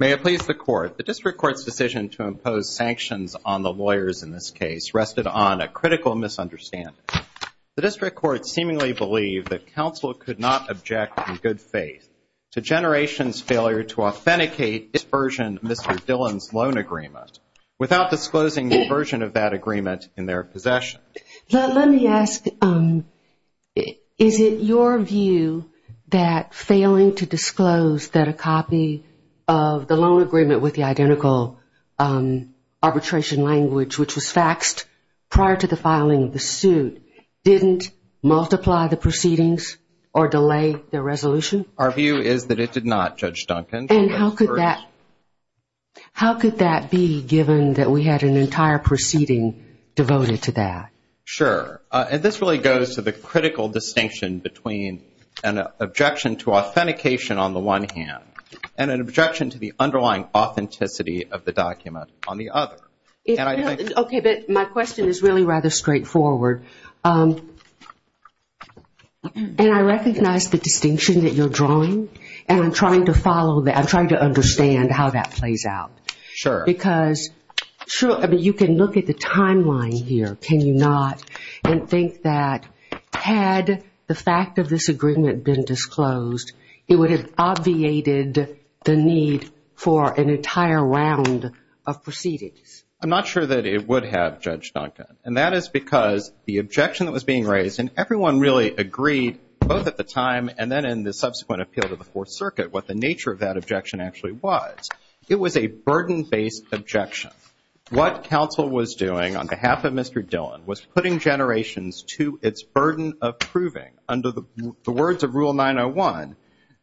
May it please the Court, the District Court's decision to impose sanctions on the lawyers in this case rested on a critical misunderstanding. The District Court seemingly believed that counsel could not object in good faith to Generations' failure to authenticate its version of Mr. Dillon's loan agreement without disclosing the version of that agreement in their possession. Let me ask, is it your view that failing to disclose that a copy of the loan agreement with the identical arbitration language which was faxed prior to the filing of the suit didn't multiply the proceedings or delay the resolution? Our view is that it did not, Judge Duncan. And how could that be given that we had an entire proceeding devoted to that? Sure. And this really goes to the critical distinction between an objection to authentication on the one hand and an objection to the underlying authenticity of the document on the other. Okay, but my question is really rather straightforward. And I recognize the distinction that you're drawing, and I'm trying to follow that. I'm trying to understand how that plays out. Sure. Because you can look at the timeline here, can you not, and think that had the fact of this agreement been disclosed, it would have obviated the need for an entire round of proceedings. I'm not sure that it would have, Judge Duncan. And that is because the objection that was being raised, and everyone really agreed both at the time and then in the subsequent appeal to the Fourth Circuit what the nature of that objection actually was. It was a burden-based objection. What counsel was doing on behalf of Mr. Dillon was putting Generations to its burden of proving under the words of Rule 901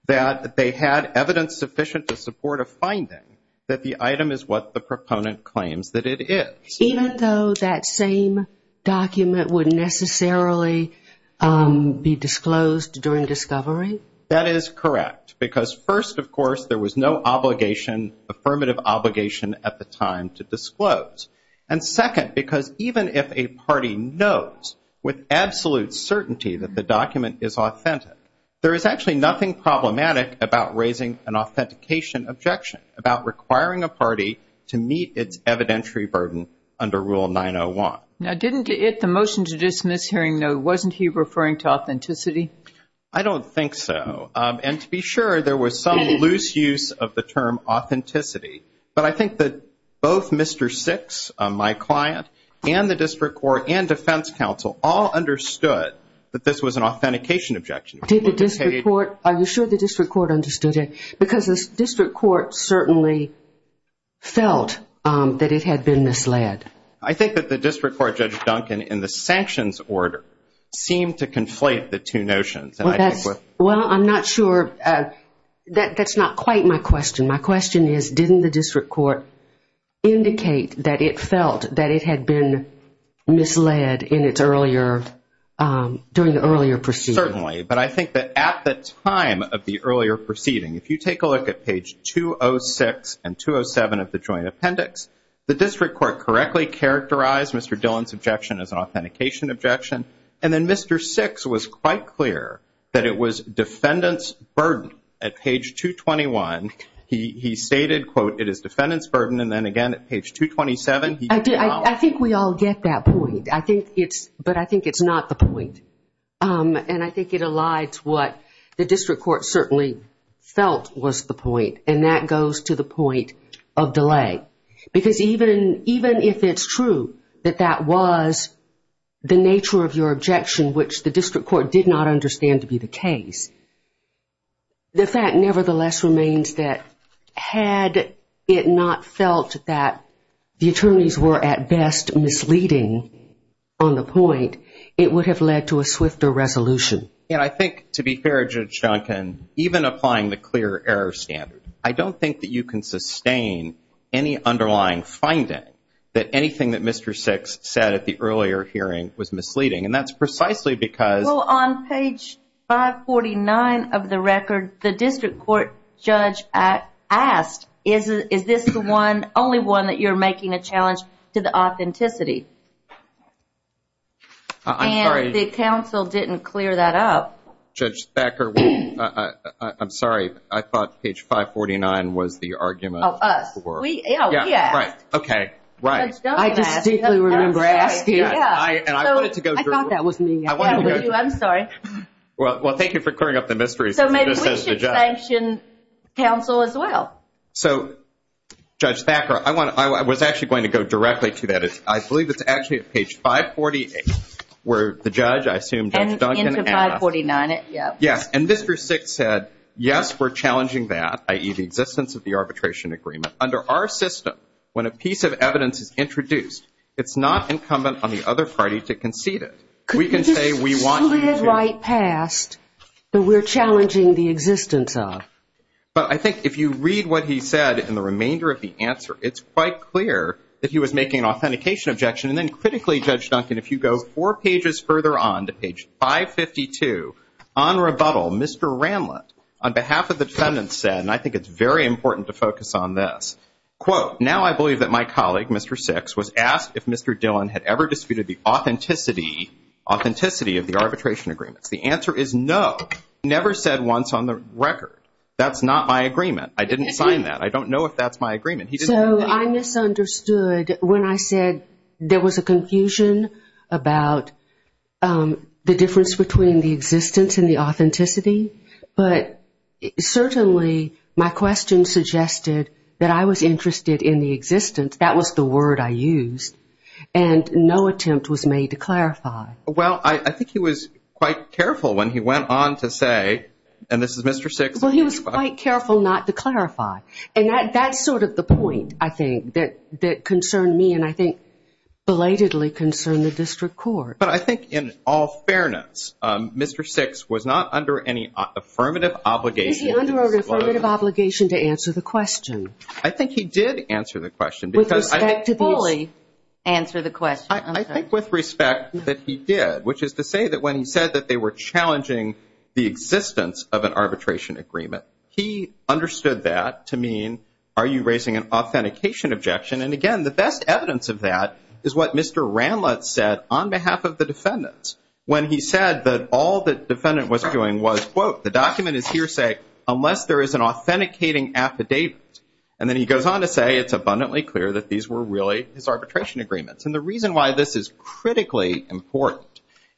that they had evidence sufficient to support a finding that the item is what the proponent claims that it is. Even though that same document would necessarily be disclosed during discovery? That is correct. Because first, of course, there was no obligation, affirmative obligation at the time to disclose. And second, because even if a party knows with absolute certainty that the document is authentic, there is actually nothing problematic about raising an authentication objection, about requiring a party to meet its evidentiary burden under Rule 901. Now, didn't the motion to dismiss hearing note, wasn't he referring to authenticity? I don't think so. And to be sure, there was some loose use of the term authenticity. But I think that both Mr. Six, my client, and the district court and defense counsel all understood that this was an authentication objection. Did the district court? Are you sure the district court understood it? Because the district court certainly felt that it had been misled. I think that the district court, Judge Duncan, in the sanctions order seemed to conflate the two notions. Well, I'm not sure. That's not quite my question. My question is, didn't the district court indicate that it felt that it had been misled during the earlier proceeding? Certainly. But I think that at the time of the earlier proceeding, if you take a look at page 206 and 207 of the joint appendix, the district court correctly characterized Mr. Dillon's objection as an authentication objection. And then Mr. Six was quite clear that it was defendant's burden. At page 221, he stated, quote, it is defendant's burden. And then again at page 227, he did not. I think we all get that point. But I think it's not the point. And I think it elides what the district court certainly felt was the point. And that goes to the point of delay. Because even if it's true that that was the nature of your objection, which the district court did not understand to be the case, the fact nevertheless remains that had it not felt that the attorneys were at best misleading on the point, it would have led to a swifter resolution. And I think, to be fair, Judge Duncan, even applying the clear error standard, I don't think that you can sustain any underlying finding that anything that Mr. Six said at the earlier hearing was misleading. And that's precisely because. Well, on page 549 of the record, the district court judge asked, is this the only one that you're making a challenge to the authenticity? I'm sorry. And the counsel didn't clear that up. Judge Thacker, I'm sorry. I thought page 549 was the argument. Oh, us. We asked. Right. Okay. Right. Judge Duncan asked. I distinctly remember asking. And I wanted to go through. I thought that was me. I'm sorry. Well, thank you for clearing up the mysteries. So maybe we should sanction counsel as well. So, Judge Thacker, I was actually going to go directly to that. I believe it's actually at page 548 where the judge, I assume, Judge Duncan asked. Into 549, yep. Yes. And Mr. Six said, yes, we're challenging that, i.e., the existence of the arbitration agreement. Under our system, when a piece of evidence is introduced, it's not incumbent on the other party to concede it. We can say we want to. Could we just slip right past the we're challenging the existence of? But I think if you read what he said in the remainder of the answer, it's quite clear that he was making an authentication objection. And then critically, Judge Duncan, if you go four pages further on to page 552, on rebuttal, Mr. Ramlett, on behalf of the defendants, said, and I think it's very important to focus on this, quote, now I believe that my colleague, Mr. Six, was asked if Mr. Dillon had ever disputed the authenticity, authenticity of the arbitration agreements. The answer is no. Never said once on the record. That's not my agreement. I didn't sign that. I don't know if that's my agreement. So I misunderstood when I said there was a confusion about the difference between the existence and the authenticity. But certainly my question suggested that I was interested in the existence. That was the word I used. And no attempt was made to clarify. Well, I think he was quite careful when he went on to say, and this is Mr. Six. Well, he was quite careful not to clarify. And that's sort of the point, I think, that concerned me and I think belatedly concerned the district court. But I think in all fairness, Mr. Six was not under any affirmative obligation. He was not under any affirmative obligation to answer the question. I think he did answer the question. With respect to these. Only answer the question. I think with respect that he did, which is to say that when he said that they were challenging the existence of an arbitration agreement, he understood that to mean are you raising an authentication objection? And, again, the best evidence of that is what Mr. Ranlett said on behalf of the defendants. When he said that all the defendant was doing was, quote, the document is hearsay unless there is an authenticating affidavit. And then he goes on to say it's abundantly clear that these were really his arbitration agreements. And the reason why this is critically important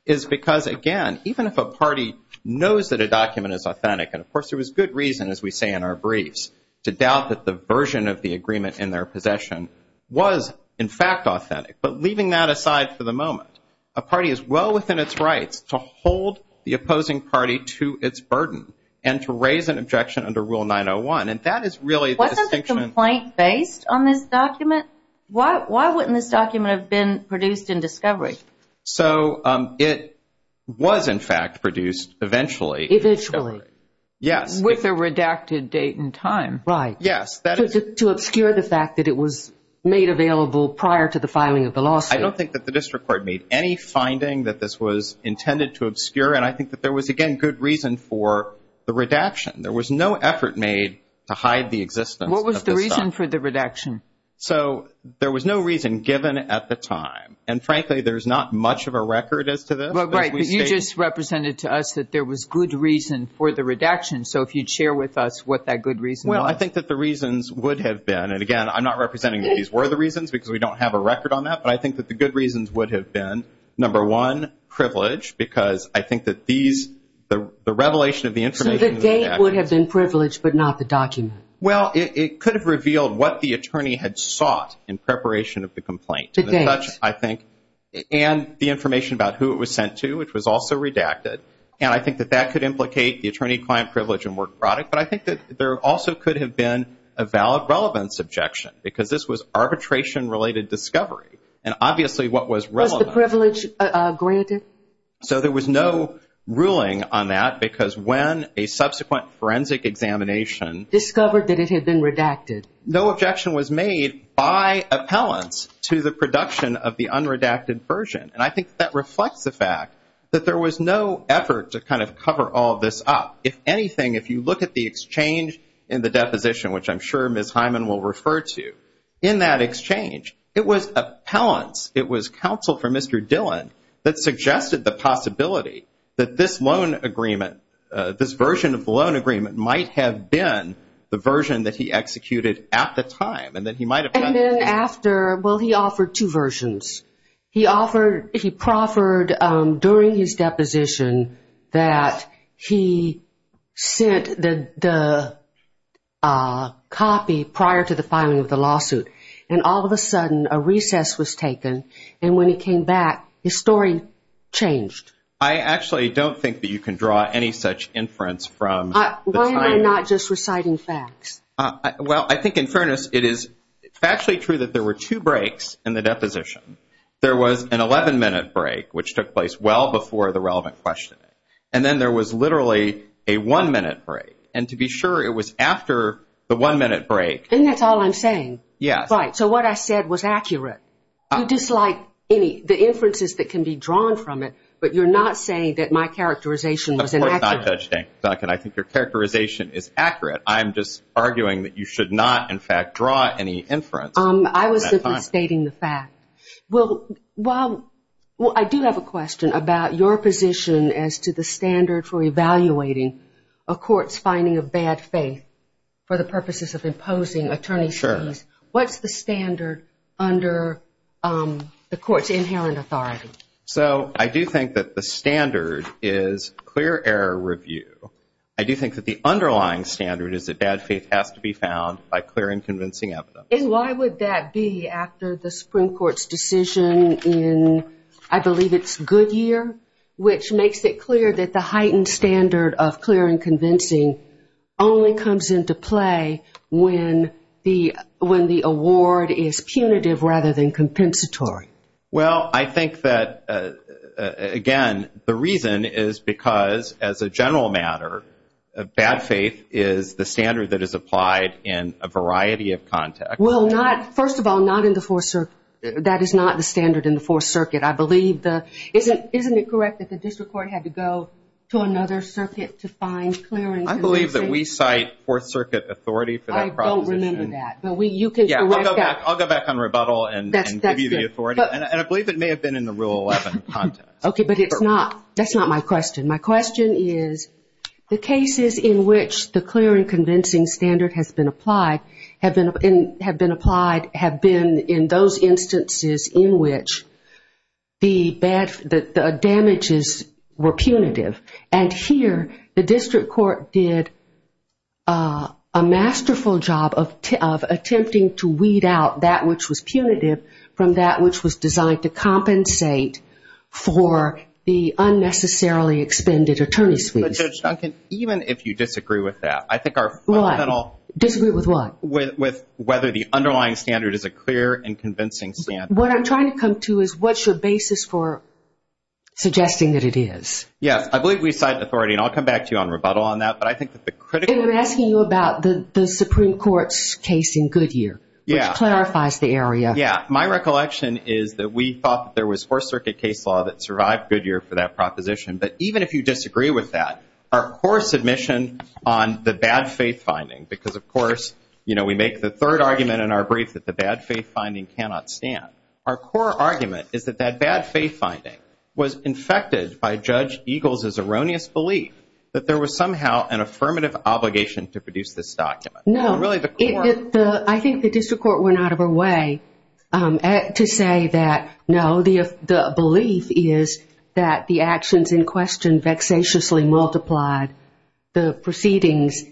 is because, again, even if a party knows that a document is authentic, and, of course, there was good reason, as we say in our briefs, to doubt that the version of the agreement in their possession was, in fact, authentic. But leaving that aside for the moment, a party is well within its rights to hold the opposing party to its burden and to raise an objection under Rule 901. Wasn't the complaint based on this document? Why wouldn't this document have been produced in discovery? So it was, in fact, produced eventually. Eventually. Yes. With a redacted date and time. Right. Yes. To obscure the fact that it was made available prior to the filing of the lawsuit. I don't think that the district court made any finding that this was intended to obscure, and I think that there was, again, good reason for the redaction. There was no effort made to hide the existence of this document. What was the reason for the redaction? So there was no reason given at the time. And, frankly, there's not much of a record as to this. Right. But you just represented to us that there was good reason for the redaction, so if you'd share with us what that good reason was. Well, I think that the reasons would have been, and, again, I'm not representing that these were the reasons because we don't have a record on that, but I think that the good reasons would have been, number one, privilege, because I think that these, the revelation of the information in the redaction. So the date would have been privilege but not the document. Well, it could have revealed what the attorney had sought in preparation of the complaint. The date. I think, and the information about who it was sent to, which was also redacted, and I think that that could implicate the attorney client privilege and work product, but I think that there also could have been a valid relevance objection because this was arbitration-related discovery, and obviously what was relevant. Was the privilege granted? So there was no ruling on that because when a subsequent forensic examination. Discovered that it had been redacted. No objection was made by appellants to the production of the unredacted version, and I think that reflects the fact that there was no effort to kind of cover all this up. If anything, if you look at the exchange in the deposition, which I'm sure Ms. Hyman will refer to, in that exchange it was appellants, it was counsel for Mr. Dillon, that suggested the possibility that this loan agreement, this version of the loan agreement might have been the version that he executed at the time and that he might have done. And then after, well, he offered two versions. He offered, he proffered during his deposition that he sent the copy prior to the filing of the lawsuit, and all of a sudden a recess was taken, and when he came back his story changed. I actually don't think that you can draw any such inference from the time. Why am I not just reciting facts? Well, I think in fairness it is factually true that there were two breaks in the deposition. There was an 11-minute break, which took place well before the relevant questioning, and then there was literally a one-minute break, and to be sure it was after the one-minute break. And that's all I'm saying. Yes. Right. So what I said was accurate. You dislike any, the inferences that can be drawn from it, but you're not saying that my characterization was inaccurate. Of course not, Judge Dankin. I think your characterization is accurate. I'm just arguing that you should not, in fact, draw any inference. I was simply stating the fact. Well, I do have a question about your position as to the standard for evaluating a court's finding of bad faith for the purposes of imposing attorney's fees. What's the standard under the court's inherent authority? So I do think that the standard is clear error review. I do think that the underlying standard is that bad faith has to be found by clear and convincing evidence. And why would that be after the Supreme Court's decision in, I believe it's Goodyear, which makes it clear that the heightened standard of clear and convincing only comes into play when the award is punitive rather than compensatory? Well, I think that, again, the reason is because, as a general matter, bad faith is the standard that is applied in a variety of contexts. Well, not, first of all, not in the Fourth Circuit. That is not the standard in the Fourth Circuit. Isn't it correct that the district court had to go to another circuit to find clear and convincing? I believe that we cite Fourth Circuit authority for that proposition. I don't remember that, but you can correct that. I'll go back on rebuttal and give you the authority. And I believe it may have been in the Rule 11 context. Okay, but that's not my question. My question is the cases in which the clear and convincing standard has been applied have been in those instances in which the damages were punitive. And here the district court did a masterful job of attempting to weed out that which was punitive from that which was designed to compensate for the unnecessarily expended attorney's fees. But, Judge Duncan, even if you disagree with that, I think our fundamental – What? Disagree with what? With whether the underlying standard is a clear and convincing standard. What I'm trying to come to is what's your basis for suggesting that it is? Yes, I believe we cite authority, and I'll come back to you on rebuttal on that. But I think that the critical – And I'm asking you about the Supreme Court's case in Goodyear, which clarifies the area. Yeah, my recollection is that we thought that there was Fourth Circuit case law that survived Goodyear for that proposition. But even if you disagree with that, our core submission on the bad faith finding because, of course, you know, we make the third argument in our brief that the bad faith finding cannot stand. Our core argument is that that bad faith finding was infected by Judge Eagles' erroneous belief that there was somehow an affirmative obligation to produce this document. No. And really the court – I think the district court went out of her way to say that, no, the belief is that the actions in question vexatiously multiplied the proceedings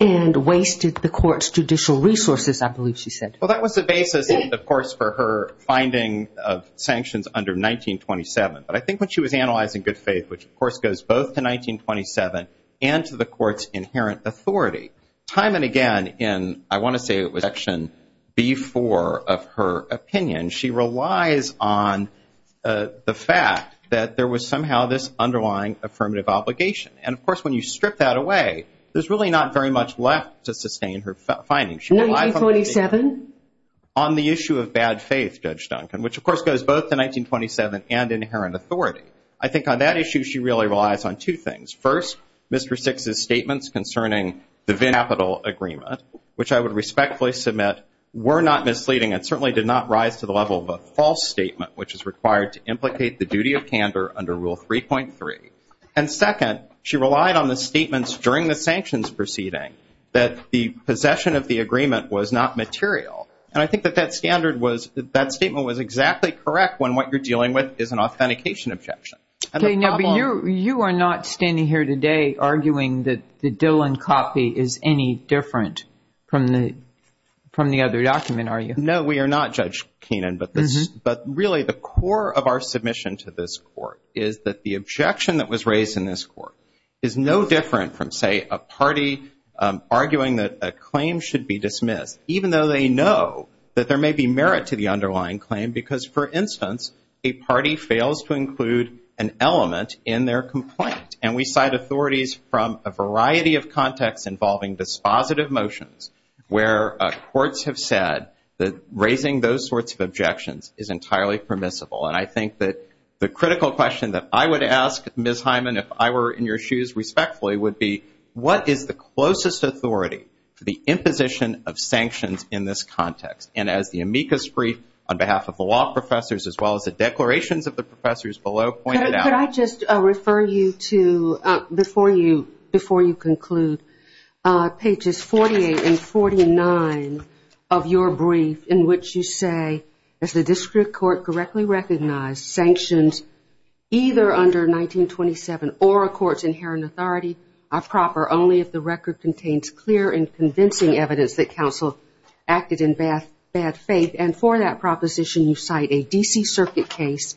and wasted the court's judicial resources, I believe she said. Well, that was the basis, of course, for her finding of sanctions under 1927. But I think when she was analyzing good faith, which, of course, goes both to 1927 and to the court's inherent authority, time and again in, I want to say it was Section B4 of her opinion, she relies on the fact that there was somehow this underlying affirmative obligation. And, of course, when you strip that away, there's really not very much left to sustain her findings. 1927? On the issue of bad faith, Judge Duncan, which, of course, goes both to 1927 and inherent authority. I think on that issue she really relies on two things. First, Mr. Six's statements concerning the Venn Capital Agreement, which I would respectfully submit, were not misleading and certainly did not rise to the level of a false statement, which is required to implicate the duty of candor under Rule 3.3. And second, she relied on the statements during the sanctions proceeding that the possession of the agreement was not material. And I think that that statement was exactly correct when what you're dealing with is an authentication objection. You are not standing here today arguing that the Dillon copy is any different from the other document, are you? No, we are not, Judge Keenan. But really the core of our submission to this court is that the objection that was raised in this court is no different from, say, a party arguing that a claim should be dismissed, even though they know that there may be merit to the underlying claim because, for instance, a party fails to include an element in their complaint. And we cite authorities from a variety of contexts involving dispositive motions where courts have said that raising those sorts of objections is entirely permissible. And I think that the critical question that I would ask, Ms. Hyman, if I were in your shoes respectfully, would be what is the closest authority to the imposition of sanctions in this context? And as the amicus brief on behalf of the law professors as well as the declarations of the professors below pointed out- Could I just refer you to, before you conclude, pages 48 and 49 of your brief in which you say, as the district court correctly recognized, sanctions either under 1927 or a court's inherent authority are proper only if the record contains clear and convincing evidence that counsel acted in bad faith. And for that proposition, you cite a D.C. Circuit case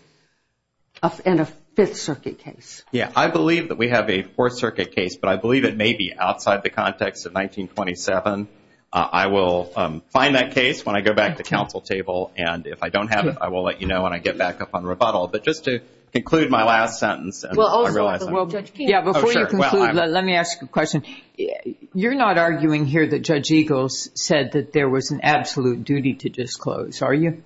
and a Fifth Circuit case. Yeah, I believe that we have a Fourth Circuit case, but I believe it may be outside the context of 1927. I will find that case when I go back to the council table. And if I don't have it, I will let you know when I get back up on rebuttal. But just to conclude my last sentence- Yeah, before you conclude, let me ask a question. You're not arguing here that Judge Eagles said that there was an absolute duty to disclose, are you?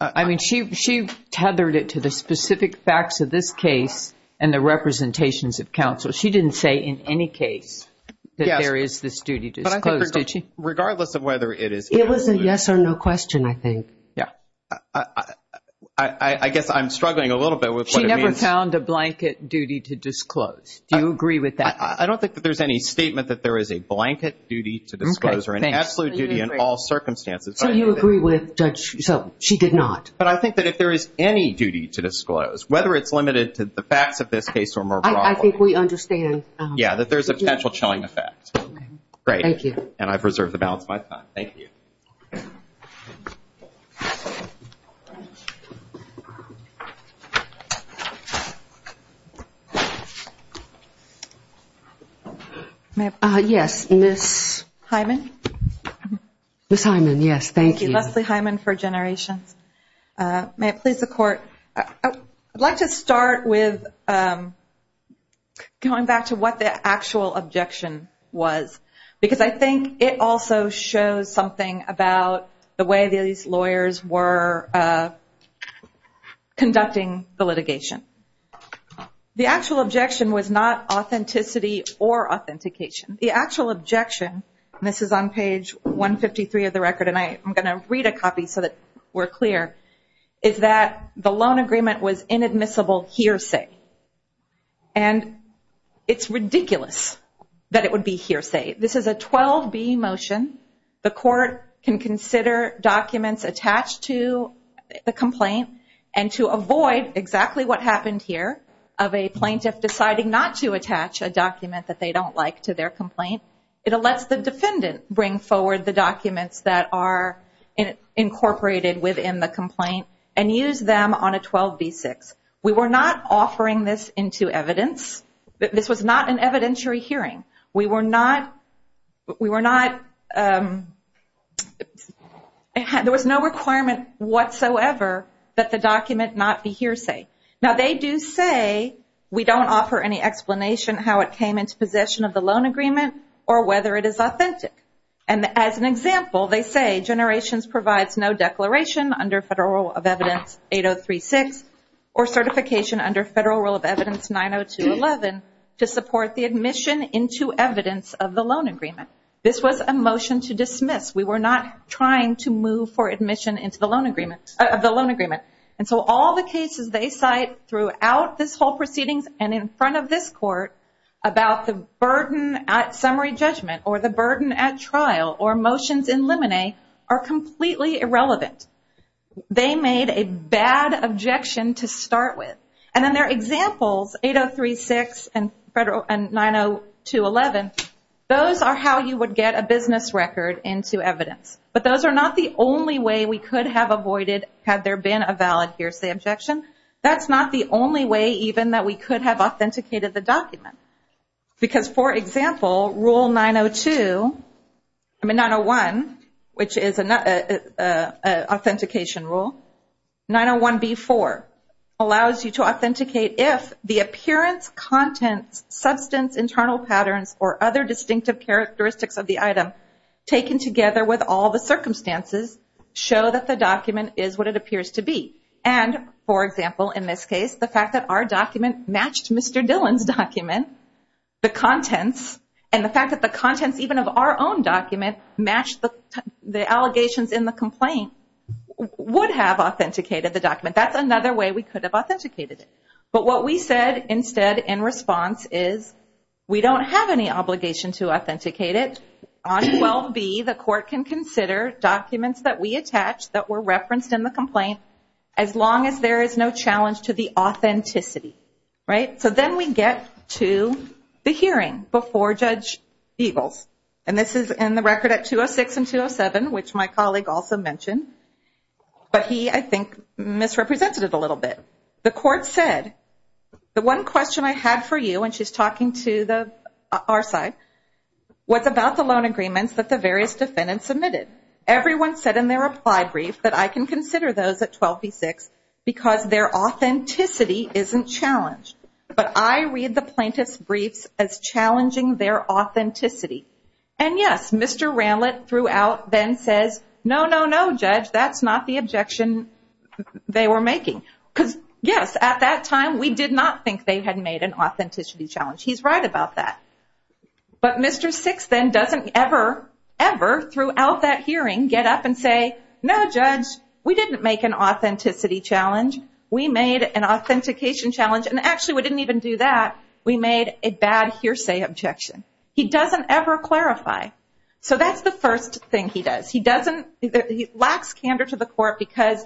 I mean, she tethered it to the specific facts of this case and the representations of counsel. She didn't say in any case that there is this duty to disclose, did she? Regardless of whether it is- It was a yes or no question, I think. Yeah. I guess I'm struggling a little bit with what it means- Do you agree with that? I don't think that there's any statement that there is a blanket duty to disclose or an absolute duty in all circumstances. So you agree with Judge- so she did not. But I think that if there is any duty to disclose, whether it's limited to the facts of this case or more broadly- I think we understand. Yeah, that there's a potential chilling effect. Great. Thank you. And I've reserved the balance of my time. Thank you. Yes, Ms. Hyman. Ms. Hyman, yes, thank you. Leslie Hyman for Generations. May it please the Court. I'd like to start with going back to what the actual objection was. Because I think it also shows something about the way these lawyers were conducting the litigation. The actual objection was not authenticity or authentication. The actual objection- and this is on page 153 of the record, and I'm going to read a copy so that we're clear- is that the loan agreement was inadmissible hearsay. And it's ridiculous that it would be hearsay. This is a 12B motion. The Court can consider documents attached to the complaint and to avoid exactly what happened here of a plaintiff deciding not to attach a document that they don't like to their complaint. It lets the defendant bring forward the documents that are incorporated within the complaint and use them on a 12B6. We were not offering this into evidence. This was not an evidentiary hearing. We were not- there was no requirement whatsoever that the document not be hearsay. Now, they do say we don't offer any explanation how it came into possession of the loan agreement or whether it is authentic. And as an example, they say Generations provides no declaration under Federal Rule of Evidence 8036 or certification under Federal Rule of Evidence 90211 to support the admission into evidence of the loan agreement. This was a motion to dismiss. We were not trying to move for admission into the loan agreement- of the loan agreement. And so all the cases they cite throughout this whole proceedings and in front of this Court about the burden at summary judgment or the burden at trial or motions in limine are completely irrelevant. They made a bad objection to start with. And then their examples, 8036 and 90211, those are how you would get a business record into evidence. But those are not the only way we could have avoided had there been a valid hearsay objection. That's not the only way even that we could have authenticated the document. Because, for example, Rule 902- I mean 901, which is an authentication rule. 901B4 allows you to authenticate if the appearance, contents, substance, internal patterns, or other distinctive characteristics of the item taken together with all the circumstances show that the document is what it appears to be. And, for example, in this case, the fact that our document matched Mr. Dillon's document, the contents, and the fact that the contents even of our own document match the allegations in the complaint, would have authenticated the document. That's another way we could have authenticated it. But what we said instead in response is we don't have any obligation to authenticate it. On 12B, the court can consider documents that we attach that were referenced in the complaint as long as there is no challenge to the authenticity. So then we get to the hearing before Judge Eagles. And this is in the record at 206 and 207, which my colleague also mentioned. But he, I think, misrepresented it a little bit. The court said, the one question I had for you, and she's talking to our side, was about the loan agreements that the various defendants submitted. Everyone said in their reply brief that I can consider those at 12B-6 because their authenticity isn't challenged. But I read the plaintiff's briefs as challenging their authenticity. And, yes, Mr. Ranlett throughout then says, no, no, no, Judge, that's not the objection they were making. Because, yes, at that time we did not think they had made an authenticity challenge. He's right about that. But Mr. Six then doesn't ever, ever throughout that hearing get up and say, no, Judge, we didn't make an authenticity challenge. We made an authentication challenge. And actually we didn't even do that. We made a bad hearsay objection. He doesn't ever clarify. So that's the first thing he does. He lacks candor to the court because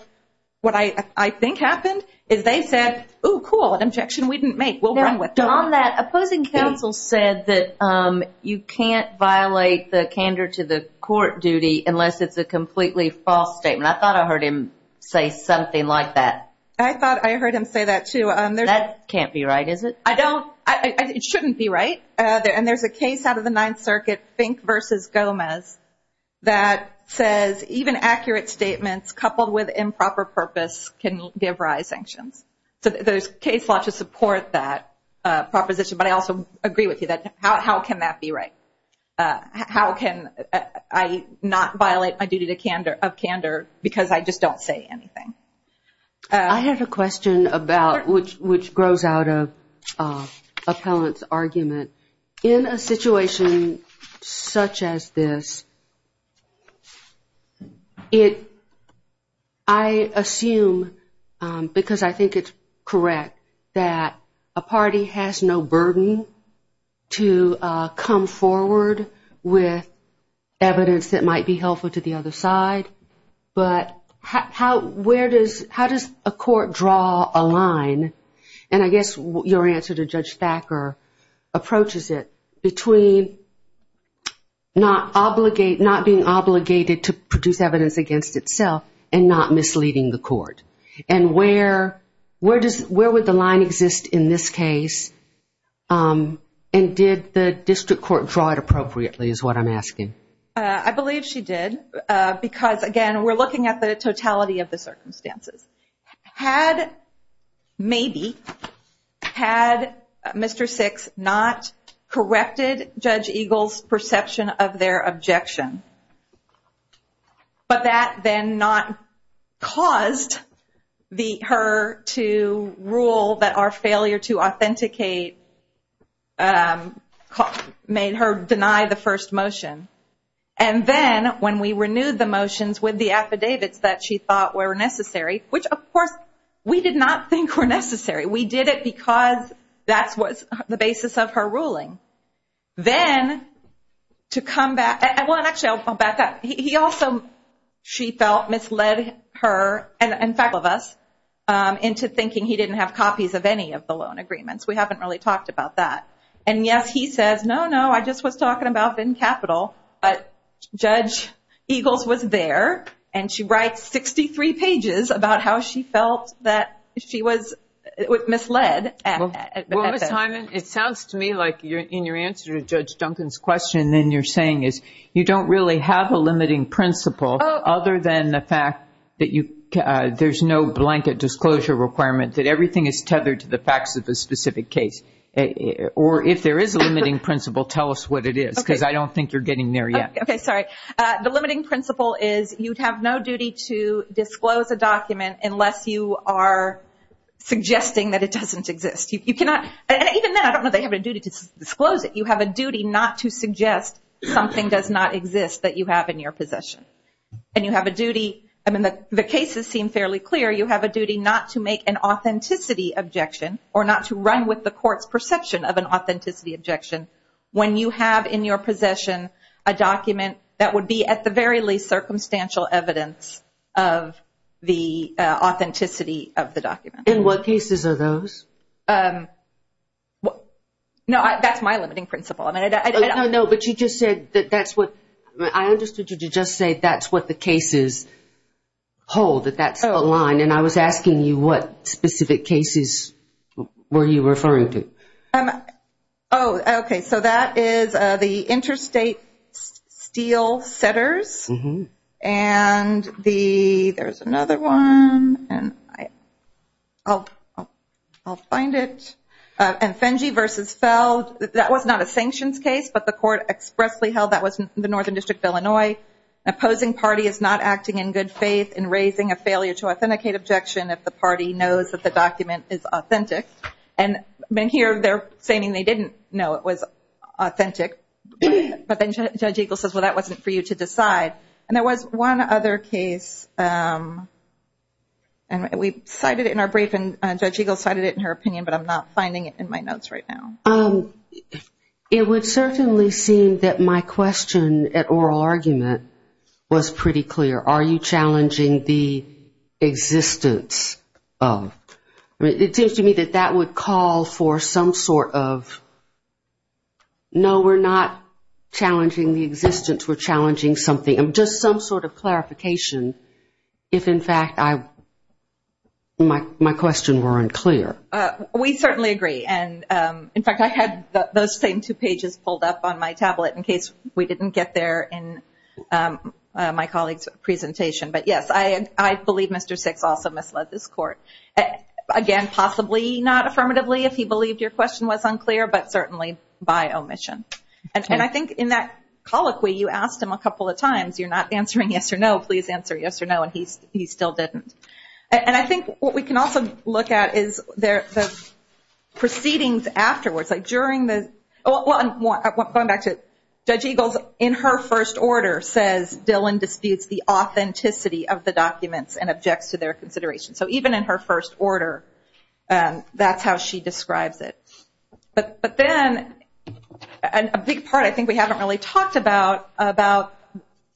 what I think happened is they said, ooh, cool, an objection we didn't make. We'll run with it. On that, opposing counsel said that you can't violate the candor to the court duty unless it's a completely false statement. I thought I heard him say something like that. I thought I heard him say that, too. That can't be right, is it? It shouldn't be right. And there's a case out of the Ninth Circuit, Fink v. Gomez, that says even accurate statements coupled with improper purpose can give rise to sanctions. So there's case law to support that proposition, but I also agree with you. How can that be right? How can I not violate my duty of candor because I just don't say anything? I have a question about which grows out of Appellant's argument. In a situation such as this, I assume, because I think it's correct, that a party has no burden to come forward with evidence that might be helpful to the other side, but how does a court draw a line? And I guess your answer to Judge Thacker approaches it between not being obligated to produce evidence against itself and not misleading the court, and where would the line exist in this case, and did the district court draw it appropriately is what I'm asking. I believe she did because, again, we're looking at the totality of the circumstances. Had maybe, had Mr. Six not corrected Judge Eagle's perception of their objection, but that then not caused her to rule that our failure to authenticate made her deny the first motion, and then when we renewed the motions with the affidavits that she thought were necessary, which, of course, we did not think were necessary. We did it because that was the basis of her ruling. Then to come back, well, actually, I'll back up. He also, she felt, misled her and, in fact, all of us into thinking he didn't have copies of any of the loan agreements. We haven't really talked about that. And, yes, he says, no, no, I just was talking about Venn Capital, but Judge Eagle's was there, and she writes 63 pages about how she felt that she was misled. Well, Ms. Hyman, it sounds to me like in your answer to Judge Duncan's question, then you're saying is you don't really have a limiting principle other than the fact that you, there's no blanket disclosure requirement, that everything is tethered to the facts of a specific case. Or if there is a limiting principle, tell us what it is, because I don't think you're getting there yet. Okay, sorry. The limiting principle is you have no duty to disclose a document unless you are suggesting that it doesn't exist. You cannot, and even then, I don't know if they have a duty to disclose it. You have a duty not to suggest something does not exist that you have in your possession. And you have a duty, I mean the cases seem fairly clear, you have a duty not to make an authenticity objection or not to run with the court's perception of an authenticity objection when you have in your possession a document that would be at the very least circumstantial evidence of the authenticity of the document. And what cases are those? No, that's my limiting principle. No, but you just said that's what, I understood you to just say that's what the cases hold, that that's the line. And I was asking you what specific cases were you referring to? Oh, okay, so that is the interstate steel setters. And the, there's another one. I'll find it. And Fenge versus Feld, that was not a sanctions case, but the court expressly held that was the Northern District of Illinois. Opposing party is not acting in good faith in raising a failure to authenticate objection and here they're saying they didn't know it was authentic. But then Judge Eagle says, well, that wasn't for you to decide. And there was one other case, and we cited it in our brief, and Judge Eagle cited it in her opinion, but I'm not finding it in my notes right now. It would certainly seem that my question at oral argument was pretty clear. Are you challenging the existence of, it seems to me that that would call for some sort of, no, we're not challenging the existence, we're challenging something, just some sort of clarification if, in fact, my questions weren't clear. We certainly agree. And, in fact, I had those same two pages pulled up on my tablet in case we didn't get there in my colleague's presentation. But, yes, I believe Mr. Six also misled this court. Again, possibly not affirmatively if he believed your question was unclear, but certainly by omission. And I think in that colloquy you asked him a couple of times, you're not answering yes or no, please answer yes or no, and he still didn't. And I think what we can also look at is the proceedings afterwards. Going back to Judge Eagle's, in her first order says, Dylan disputes the authenticity of the documents and objects to their consideration. So even in her first order, that's how she describes it. But then, a big part I think we haven't really talked about, about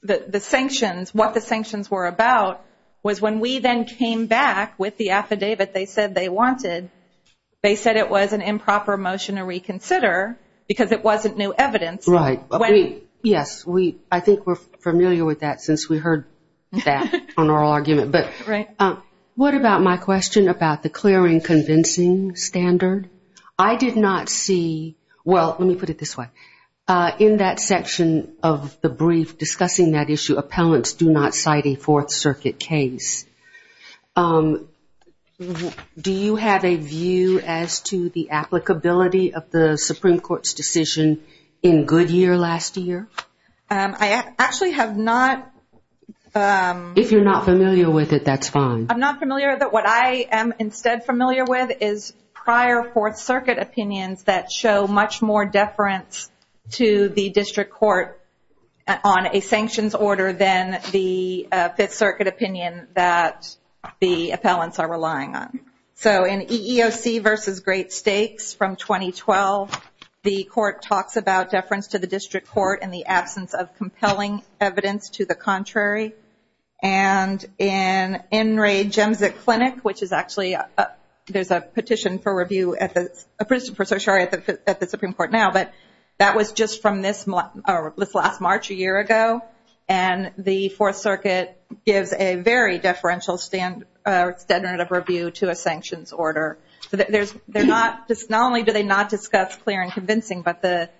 the sanctions, what the sanctions were about, was when we then came back with the affidavit they said they wanted, they said it was an improper motion to reconsider because it wasn't new evidence. Right. Yes, I think we're familiar with that since we heard that on our argument. But what about my question about the clearing convincing standard? I did not see, well, let me put it this way. In that section of the brief discussing that issue, appellants do not cite a Fourth Circuit case. Do you have a view as to the applicability of the Supreme Court's decision in Goodyear last year? I actually have not. If you're not familiar with it, that's fine. I'm not familiar, but what I am instead familiar with is prior Fourth Circuit opinions that show much more deference to the district court on a sanctions order than the Fifth Circuit opinion that the appellants are relying on. So in EEOC v. Great Stakes from 2012, the court talks about deference to the district court in the absence of compelling evidence to the contrary. And in Enright Jemzik Clinic, which is actually, there's a petition for review at the Supreme Court now, but that was just from this last March a year ago. And the Fourth Circuit gives a very deferential standard of review to a sanctions order. So not only do they not discuss clear and convincing, but the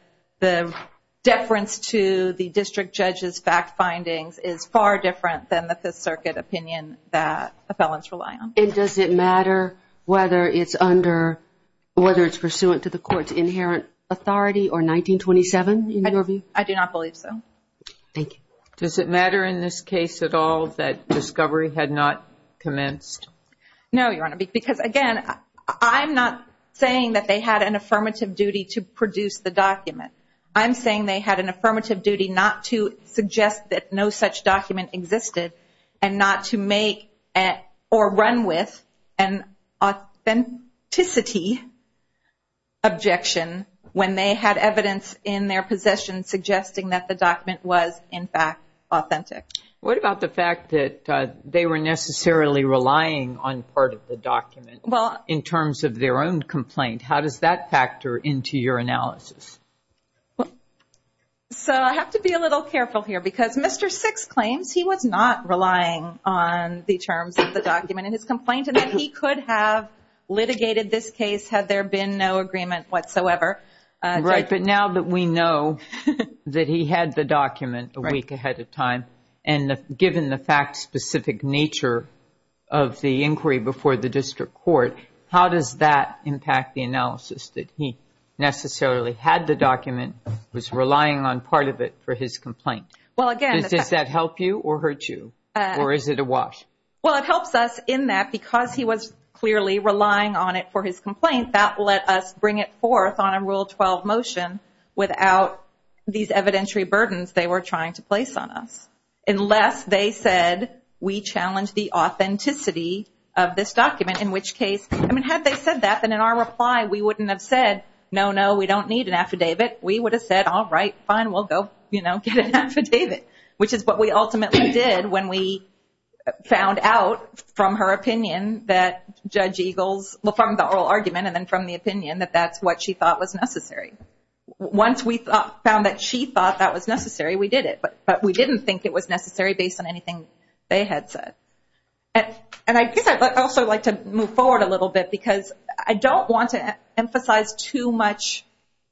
deference to the district judge's fact findings is far different than the Fifth Circuit opinion that appellants rely on. And does it matter whether it's pursuant to the court's inherent authority or 1927 in your view? I do not believe so. Does it matter in this case at all that discovery had not commenced? No, Your Honor, because again, I'm not saying that they had an affirmative duty to produce the document. I'm saying they had an affirmative duty not to suggest that no such document existed and not to make or run with an authenticity objection when they had evidence in their possession suggesting that the document was in fact authentic. What about the fact that they were necessarily relying on part of the document in terms of their own complaint? How does that factor into your analysis? So I have to be a little careful here because Mr. Six claims he was not relying on the terms of the document in his complaint and that he could have litigated this case had there been no agreement whatsoever. Right, but now that we know that he had the document a week ahead of time and given the fact-specific nature of the inquiry before the district court, how does that impact the analysis that he necessarily had the document, was relying on part of it for his complaint? Does that help you or hurt you or is it a wash? Well, it helps us in that because he was clearly relying on it for his complaint. That let us bring it forth on a Rule 12 motion without these evidentiary burdens they were trying to place on us. Unless they said we challenge the authenticity of this document, in which case, I mean, had they said that, then in our reply we wouldn't have said, no, no, we don't need an affidavit. We would have said, all right, fine, we'll go get an affidavit, which is what we ultimately did when we found out from her oral argument and then from the opinion that that's what she thought was necessary. Once we found that she thought that was necessary, we did it. But we didn't think it was necessary based on anything they had said. And I guess I'd also like to move forward a little bit because I don't want to emphasize too much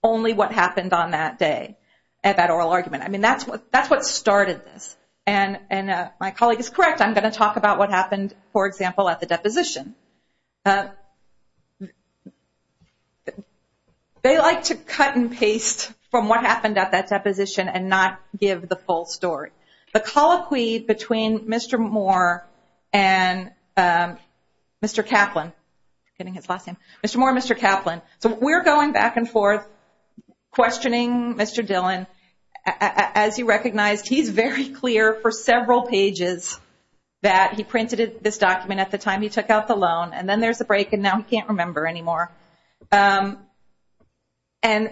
only what happened on that day at that oral argument. I mean, that's what started this. And my colleague is correct. I'm going to talk about what happened, for example, at the deposition. They like to cut and paste from what happened at that deposition and not give the full story. The colloquy between Mr. Moore and Mr. Kaplan, so we're going back and forth questioning Mr. Dillon. As you recognized, he's very clear for several pages that he printed this document at the time he took out the loan. And then there's a break and now he can't remember anymore. And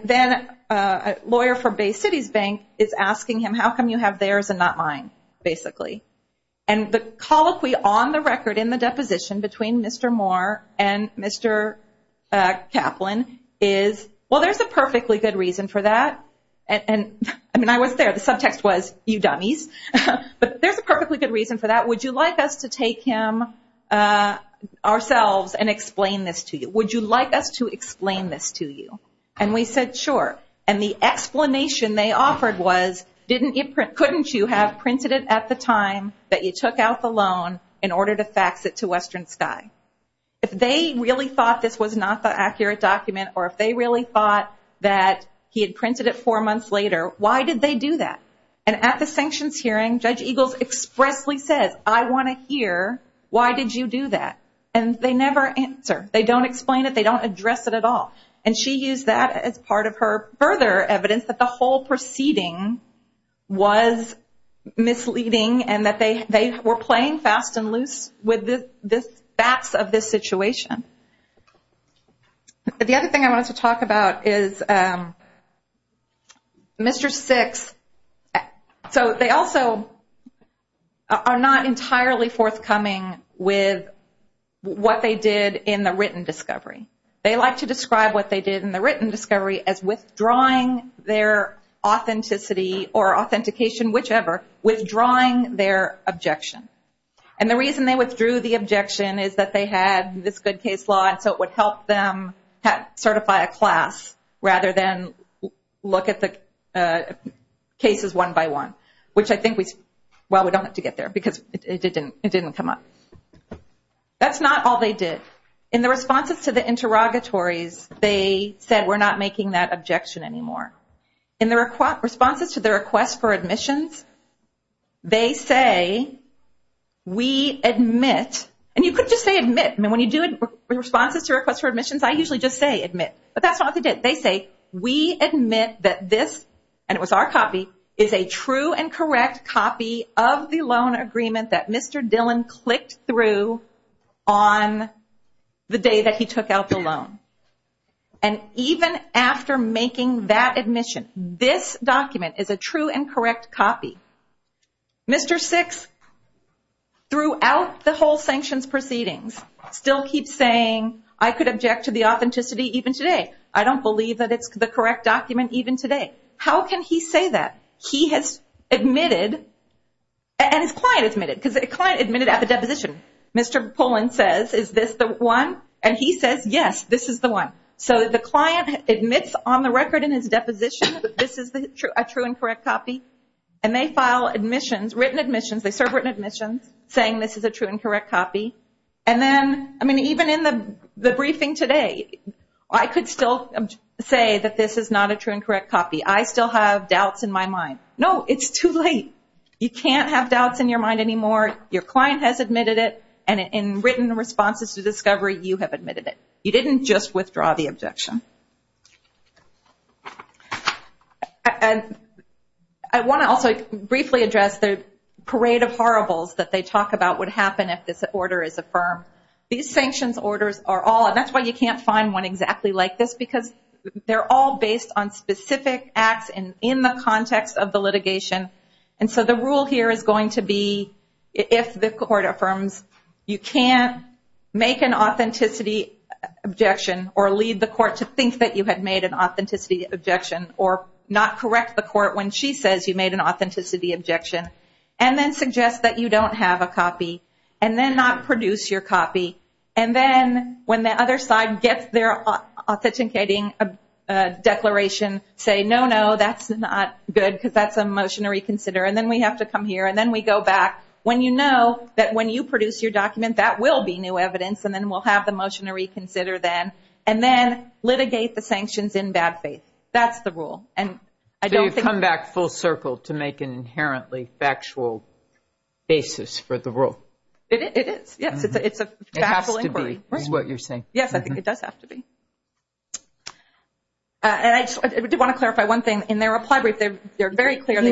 then a lawyer for Bay Cities Bank is asking him, how come you have theirs and not mine, basically. And the colloquy on the record in the deposition between Mr. Moore and Mr. Kaplan is, well, there's a perfectly good reason for that. Would you like us to take him ourselves and explain this to you? And we said, sure. And the explanation they offered was, couldn't you have printed it at the time that you took out the loan in order to fax it to Western Sky? If they really thought this was not the accurate document, or if they really thought that he had printed it four months later, why did they do that? And at the sanctions hearing, Judge Eagles expressly says, I want to hear, why did you do that? And they never answer. They don't explain it. They don't address it at all. And she used that as part of her further evidence that the whole proceeding was misleading and that they were playing fast and loose with the facts of this situation. The other thing I wanted to talk about is Mr. Six. So they also are not entirely forthcoming with what they did in the written discovery. They like to describe what they did in the written discovery as withdrawing their authenticity or authentication, whichever, withdrawing their objection. And the reason they withdrew the objection is that they had this good case law, and so it would help them certify a class rather than look at the cases one by one, which I think, well, we don't have to get there because it didn't come up. That's not all they did. In the responses to the interrogatories, they said, we're not making that objection anymore. In the responses to the request for admissions, they say, we admit, and you couldn't just say admit. When you do responses to requests for admissions, I usually just say admit. But that's not what they did. They say, we admit that this, and it was our copy, is a true and correct copy of the loan agreement that Mr. Dillon clicked through on the day that he took out the loan. And even after making that admission, this document is a true and correct copy. Mr. Six, throughout the whole sanctions proceedings, still keeps saying, I could object to the authenticity even today. I don't believe that it's the correct document even today. How can he say that? He has admitted, and his client admitted at the deposition. Mr. Pullen says, is this the one? Even in the briefing today, I could still say that this is not a true and correct copy. I still have doubts in my mind. No, it's too late. You can't have doubts in your mind anymore. Your client has admitted it, and in written responses to discovery, you have admitted it. You didn't just withdraw the objection. I want to also briefly address the parade of horribles that they talk about would happen if this order is affirmed. These sanctions orders are all, and that's why you can't find one exactly like this, because they're all based on specific acts in the context of the litigation. And so the rule here is going to be, if the court affirms, you can't make an authenticity objection, or lead the court to think that you had made an authenticity objection, or not correct the court when she says you made an authenticity objection, and then suggest that you don't have a copy, and then not produce your copy, and then when the other side gets their authenticating declaration, say, no, no, that's not good, because that's a motion to reconsider, and then we have to come here, and then we go back. When you know that when you produce your document, that will be new evidence, and then we'll have the motion to reconsider then, and then litigate the sanctions in bad faith. That's the rule. So you've come back full circle to make an inherently factual basis for the rule? It is. Yes, it's a factual inquiry. Yes, I think it does have to be. I did want to clarify one thing. In their reply brief, they're very clear. Do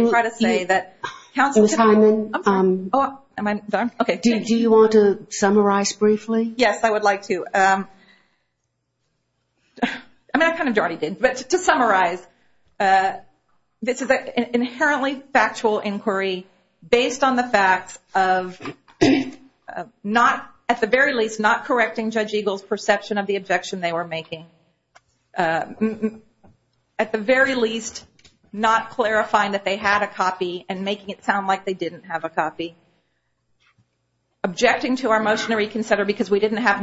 you want to summarize briefly? Yes, I would like to. I mean, I kind of already did, but to summarize, this is an inherently factual inquiry based on the facts of not, at the very least, not correcting Judge Eagle's perception of the objection they were making. At the very least, not clarifying that they had a copy, and making it sound like they didn't have a copy. Objecting to our motion to reconsider because we didn't have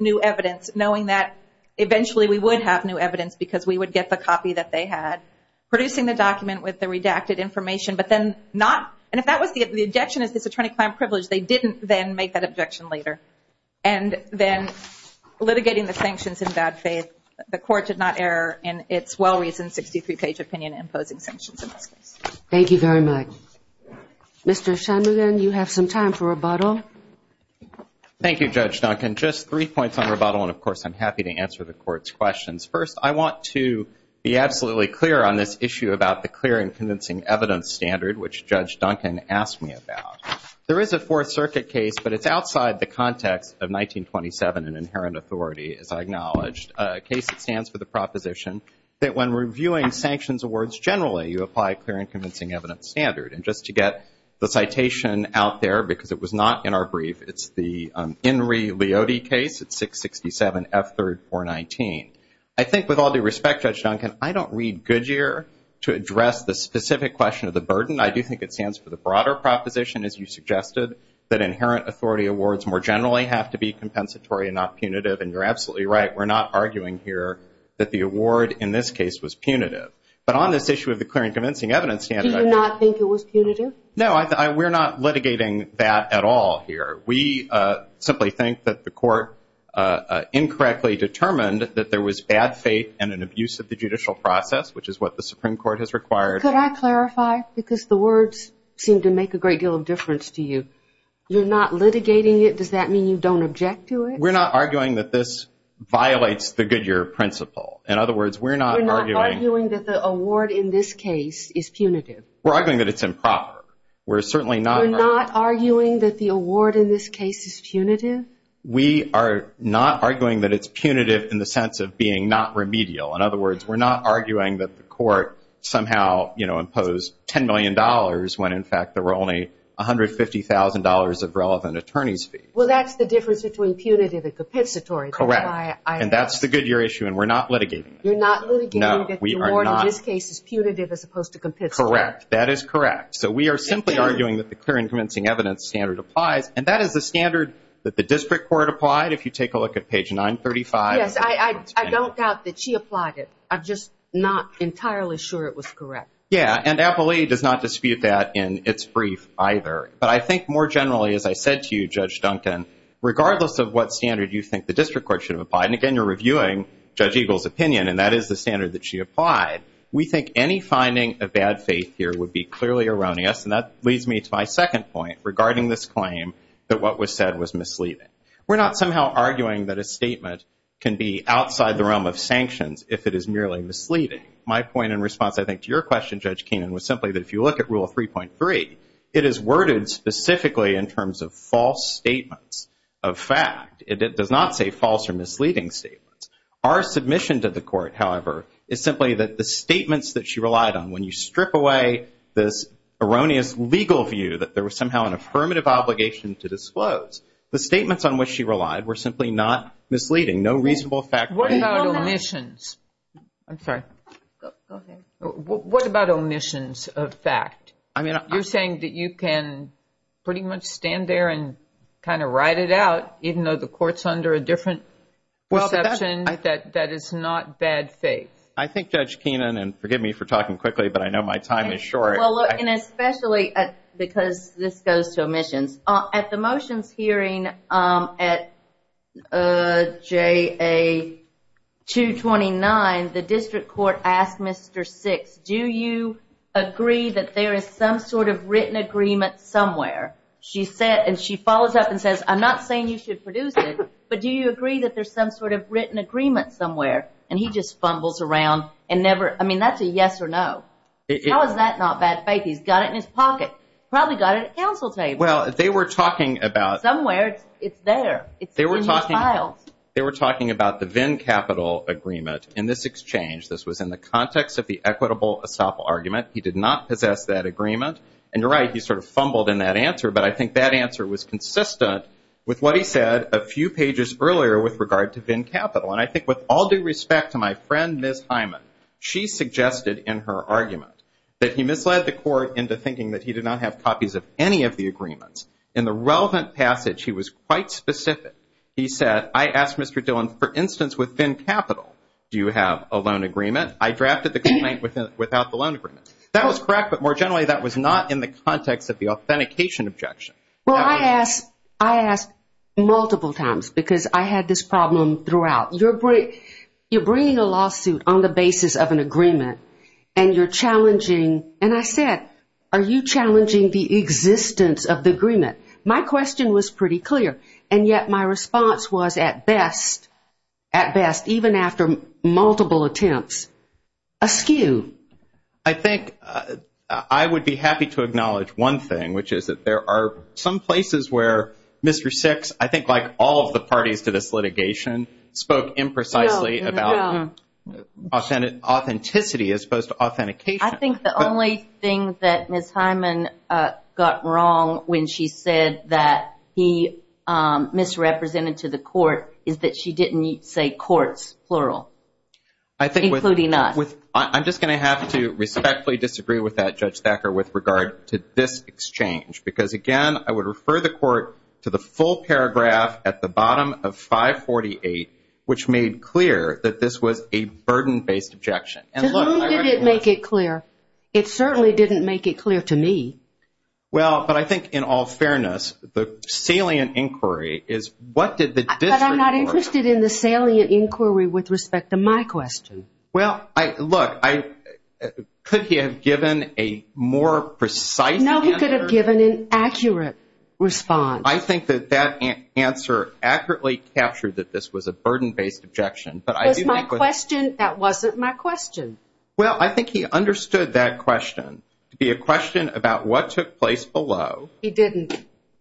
new evidence, knowing that eventually we would have new evidence because we would get the copy that they had. Producing the document with the redacted information, but then not, and if the objection is this attorney-client privilege, they didn't then make that objection later. And then litigating the sanctions in bad faith. The Court did not err in its well-reasoned 63-page opinion on imposing sanctions in this case. Thank you very much. Mr. Shanmugam, you have some time for rebuttal. Thank you, Judge Duncan. Just three points on rebuttal, and of course I'm happy to answer the Court's questions. First, I want to be absolutely clear on this issue about the clear and convincing evidence standard, which Judge Duncan asked me about. There is a Fourth Circuit case, but it's outside the context of 1927 and inherent authority, as I acknowledged, a case that stands for the proposition that when reviewing sanctions awards generally, you apply a clear and convincing evidence standard. And just to get the citation out there, because it was not in our brief, it's the Inry-Leody case. It's 667F3-419. I think with all due respect, Judge Duncan, I don't read Goodyear to address the specific question of the burden. I do think it stands for the broader proposition, as you suggested, that inherent authority awards more generally have to be compensatory and not punitive. And you're absolutely right. We're not arguing here that the award in this case was punitive. But on this issue of the clear and convincing evidence standard, I think Do you not think it was punitive? No, we're not litigating that at all here. We simply think that the Court incorrectly determined that there was bad faith and an abuse of the judicial process, which is what the Supreme Court has required. Could I clarify? Because the words seem to make a great deal of difference to you. You're not litigating it. Does that mean you don't object to it? We're not arguing that this violates the Goodyear principle. In other words, we're not arguing that the award in this case is punitive. We're arguing that it's improper. We're certainly not arguing that the award in this case is punitive. We are not arguing that it's punitive in the sense of being not remedial. In other words, we're not arguing that the Court somehow imposed $10 million when, in fact, there were only $150,000 of relevant attorneys' fees. Well, that's the difference between punitive and compensatory. Correct. And that's the Goodyear issue, and we're not litigating it. You're not litigating that the award in this case is punitive as opposed to compensatory. Correct. That is correct. So we are simply arguing that the clear and convincing evidence standard applies. And that is the standard that the District Court applied, if you take a look at page 935. Yes, I don't doubt that she applied it. I'm just not entirely sure it was correct. Yeah, and Appellee does not dispute that in its brief either. But I think more generally, as I said to you, Judge Duncan, regardless of what standard you think the District Court should have applied, and again, you're reviewing Judge Eagle's opinion, and that is the standard that she applied, we think any finding of bad faith here would be clearly erroneous. And that leads me to my second point regarding this claim that what was said was misleading. We're not somehow arguing that a statement can be outside the realm of sanctions if it is merely misleading. My point in response, I think, to your question, Judge Keenan, was simply that if you look at Rule 3.3, it is worded specifically in terms of false statements of fact. It does not say false or misleading statements. Our submission to the Court, however, is simply that the statements that she relied on, when you strip away this erroneous legal view that there was somehow an affirmative obligation to disclose, the statements on which she relied were simply not misleading, no reasonable fact. What about omissions? I'm sorry. What about omissions of fact? You're saying that you can pretty much stand there and kind of ride it out, even though the Court's under a different perception, that that is not bad faith? I think, Judge Keenan, and forgive me for talking quickly, but I know my time is short. Well, look, and especially because this goes to omissions, at the motions hearing at JA 229, the district court asked Mr. Six, do you agree that there is some sort of written agreement somewhere? And she follows up and says, I'm not saying you should produce it, but do you agree that there's some sort of written agreement somewhere? And he just fumbles around and never, I mean, that's a yes or no. How is that not bad faith? He's got it in his pocket. Probably got it at the council table. Somewhere, it's there. It's in your files. They were talking about the Venn capital agreement in this exchange. This was in the context of the equitable estoppel argument. He did not possess that agreement. And you're right, he sort of fumbled in that answer, but I think that answer was consistent with what he said a few pages earlier with regard to Venn capital. And I think with all due respect to my friend, Ms. Hyman, she suggested in her argument that he misled the Court into thinking that he did not have copies of any of the agreements. In the relevant passage, he was quite specific. He said, I asked Mr. Dillon, for instance, with Venn capital, do you have a loan agreement? I drafted the complaint without the loan agreement. That was correct, but more generally, that was not in the context of the authentication objection. Well, I asked multiple times because I had this problem throughout. You're bringing a lawsuit on the basis of an agreement, and you're challenging, and I said, are you challenging the existence of the agreement? My question was pretty clear, and yet my response was, at best, even after multiple attempts, a skew. I think I would be happy to acknowledge one thing, which is that there are some places where Mr. Six, I think like all of the parties to this litigation, spoke imprecisely about authenticity as opposed to authentication. I think the only thing that Ms. Hyman got wrong when she said that he misrepresented to the Court is that she didn't say courts, plural, including us. I'm just going to have to respectfully disagree with that, Judge Thacker, with regard to this exchange because, again, I would refer the Court to the full paragraph at the bottom of 548, which made clear that this was a burden-based objection. To whom did it make it clear? It certainly didn't make it clear to me. Well, but I think in all fairness, the salient inquiry is, what did the district court say? But I'm not interested in the salient inquiry with respect to my question. Well, look, could he have given a more precise answer? It was a burden-based objection. Well, I think he understood that question to be a question about what took place below. He didn't.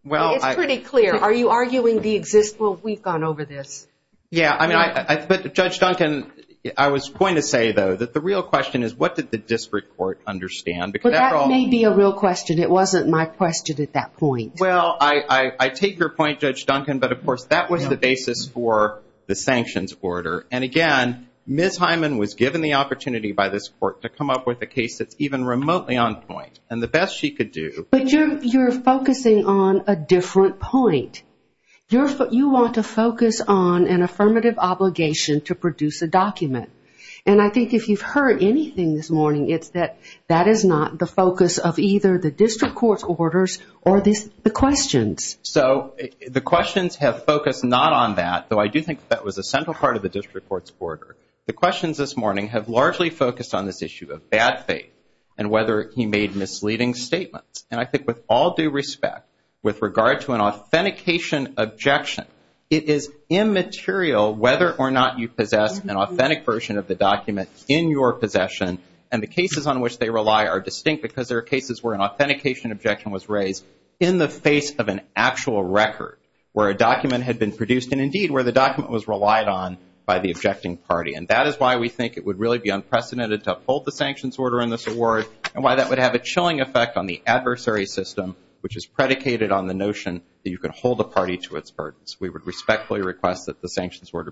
It's pretty clear. Are you arguing the existence? Well, we've gone over this. Yeah, but Judge Duncan, I was going to say, though, that the real question is, what did the district court understand? Well, that may be a real question. It wasn't my question at that point. Well, I take your point, Judge Duncan, but, of course, that was the basis for the sanctions order. And, again, Ms. Hyman was given the opportunity by this Court to come up with a case that's even remotely on point, and the best she could do. But you're focusing on a different point. You want to focus on an affirmative obligation to produce a document. And I think if you've heard anything this morning, it's that that is not the focus of either the district court's orders or the questions. So the questions have focused not on that, though I do think that was a central part of the district court's order. The questions this morning have largely focused on this issue of bad faith and whether he made misleading statements. And I think with all due respect, with regard to an authentication objection, it is immaterial whether or not you possess an authentic version of the document in your possession, and the cases on which they rely are distinct because there are cases where an authentication objection was raised in the face of an actual record where a document had been produced, and, indeed, where the document was relied on by the objecting party. And that is why we think it would really be unprecedented to uphold the sanctions order in this award and why that would have a chilling effect on the adversary system, which is predicated on the notion that you can hold a party to its burdens. We would respectfully request that the sanctions order be vacated.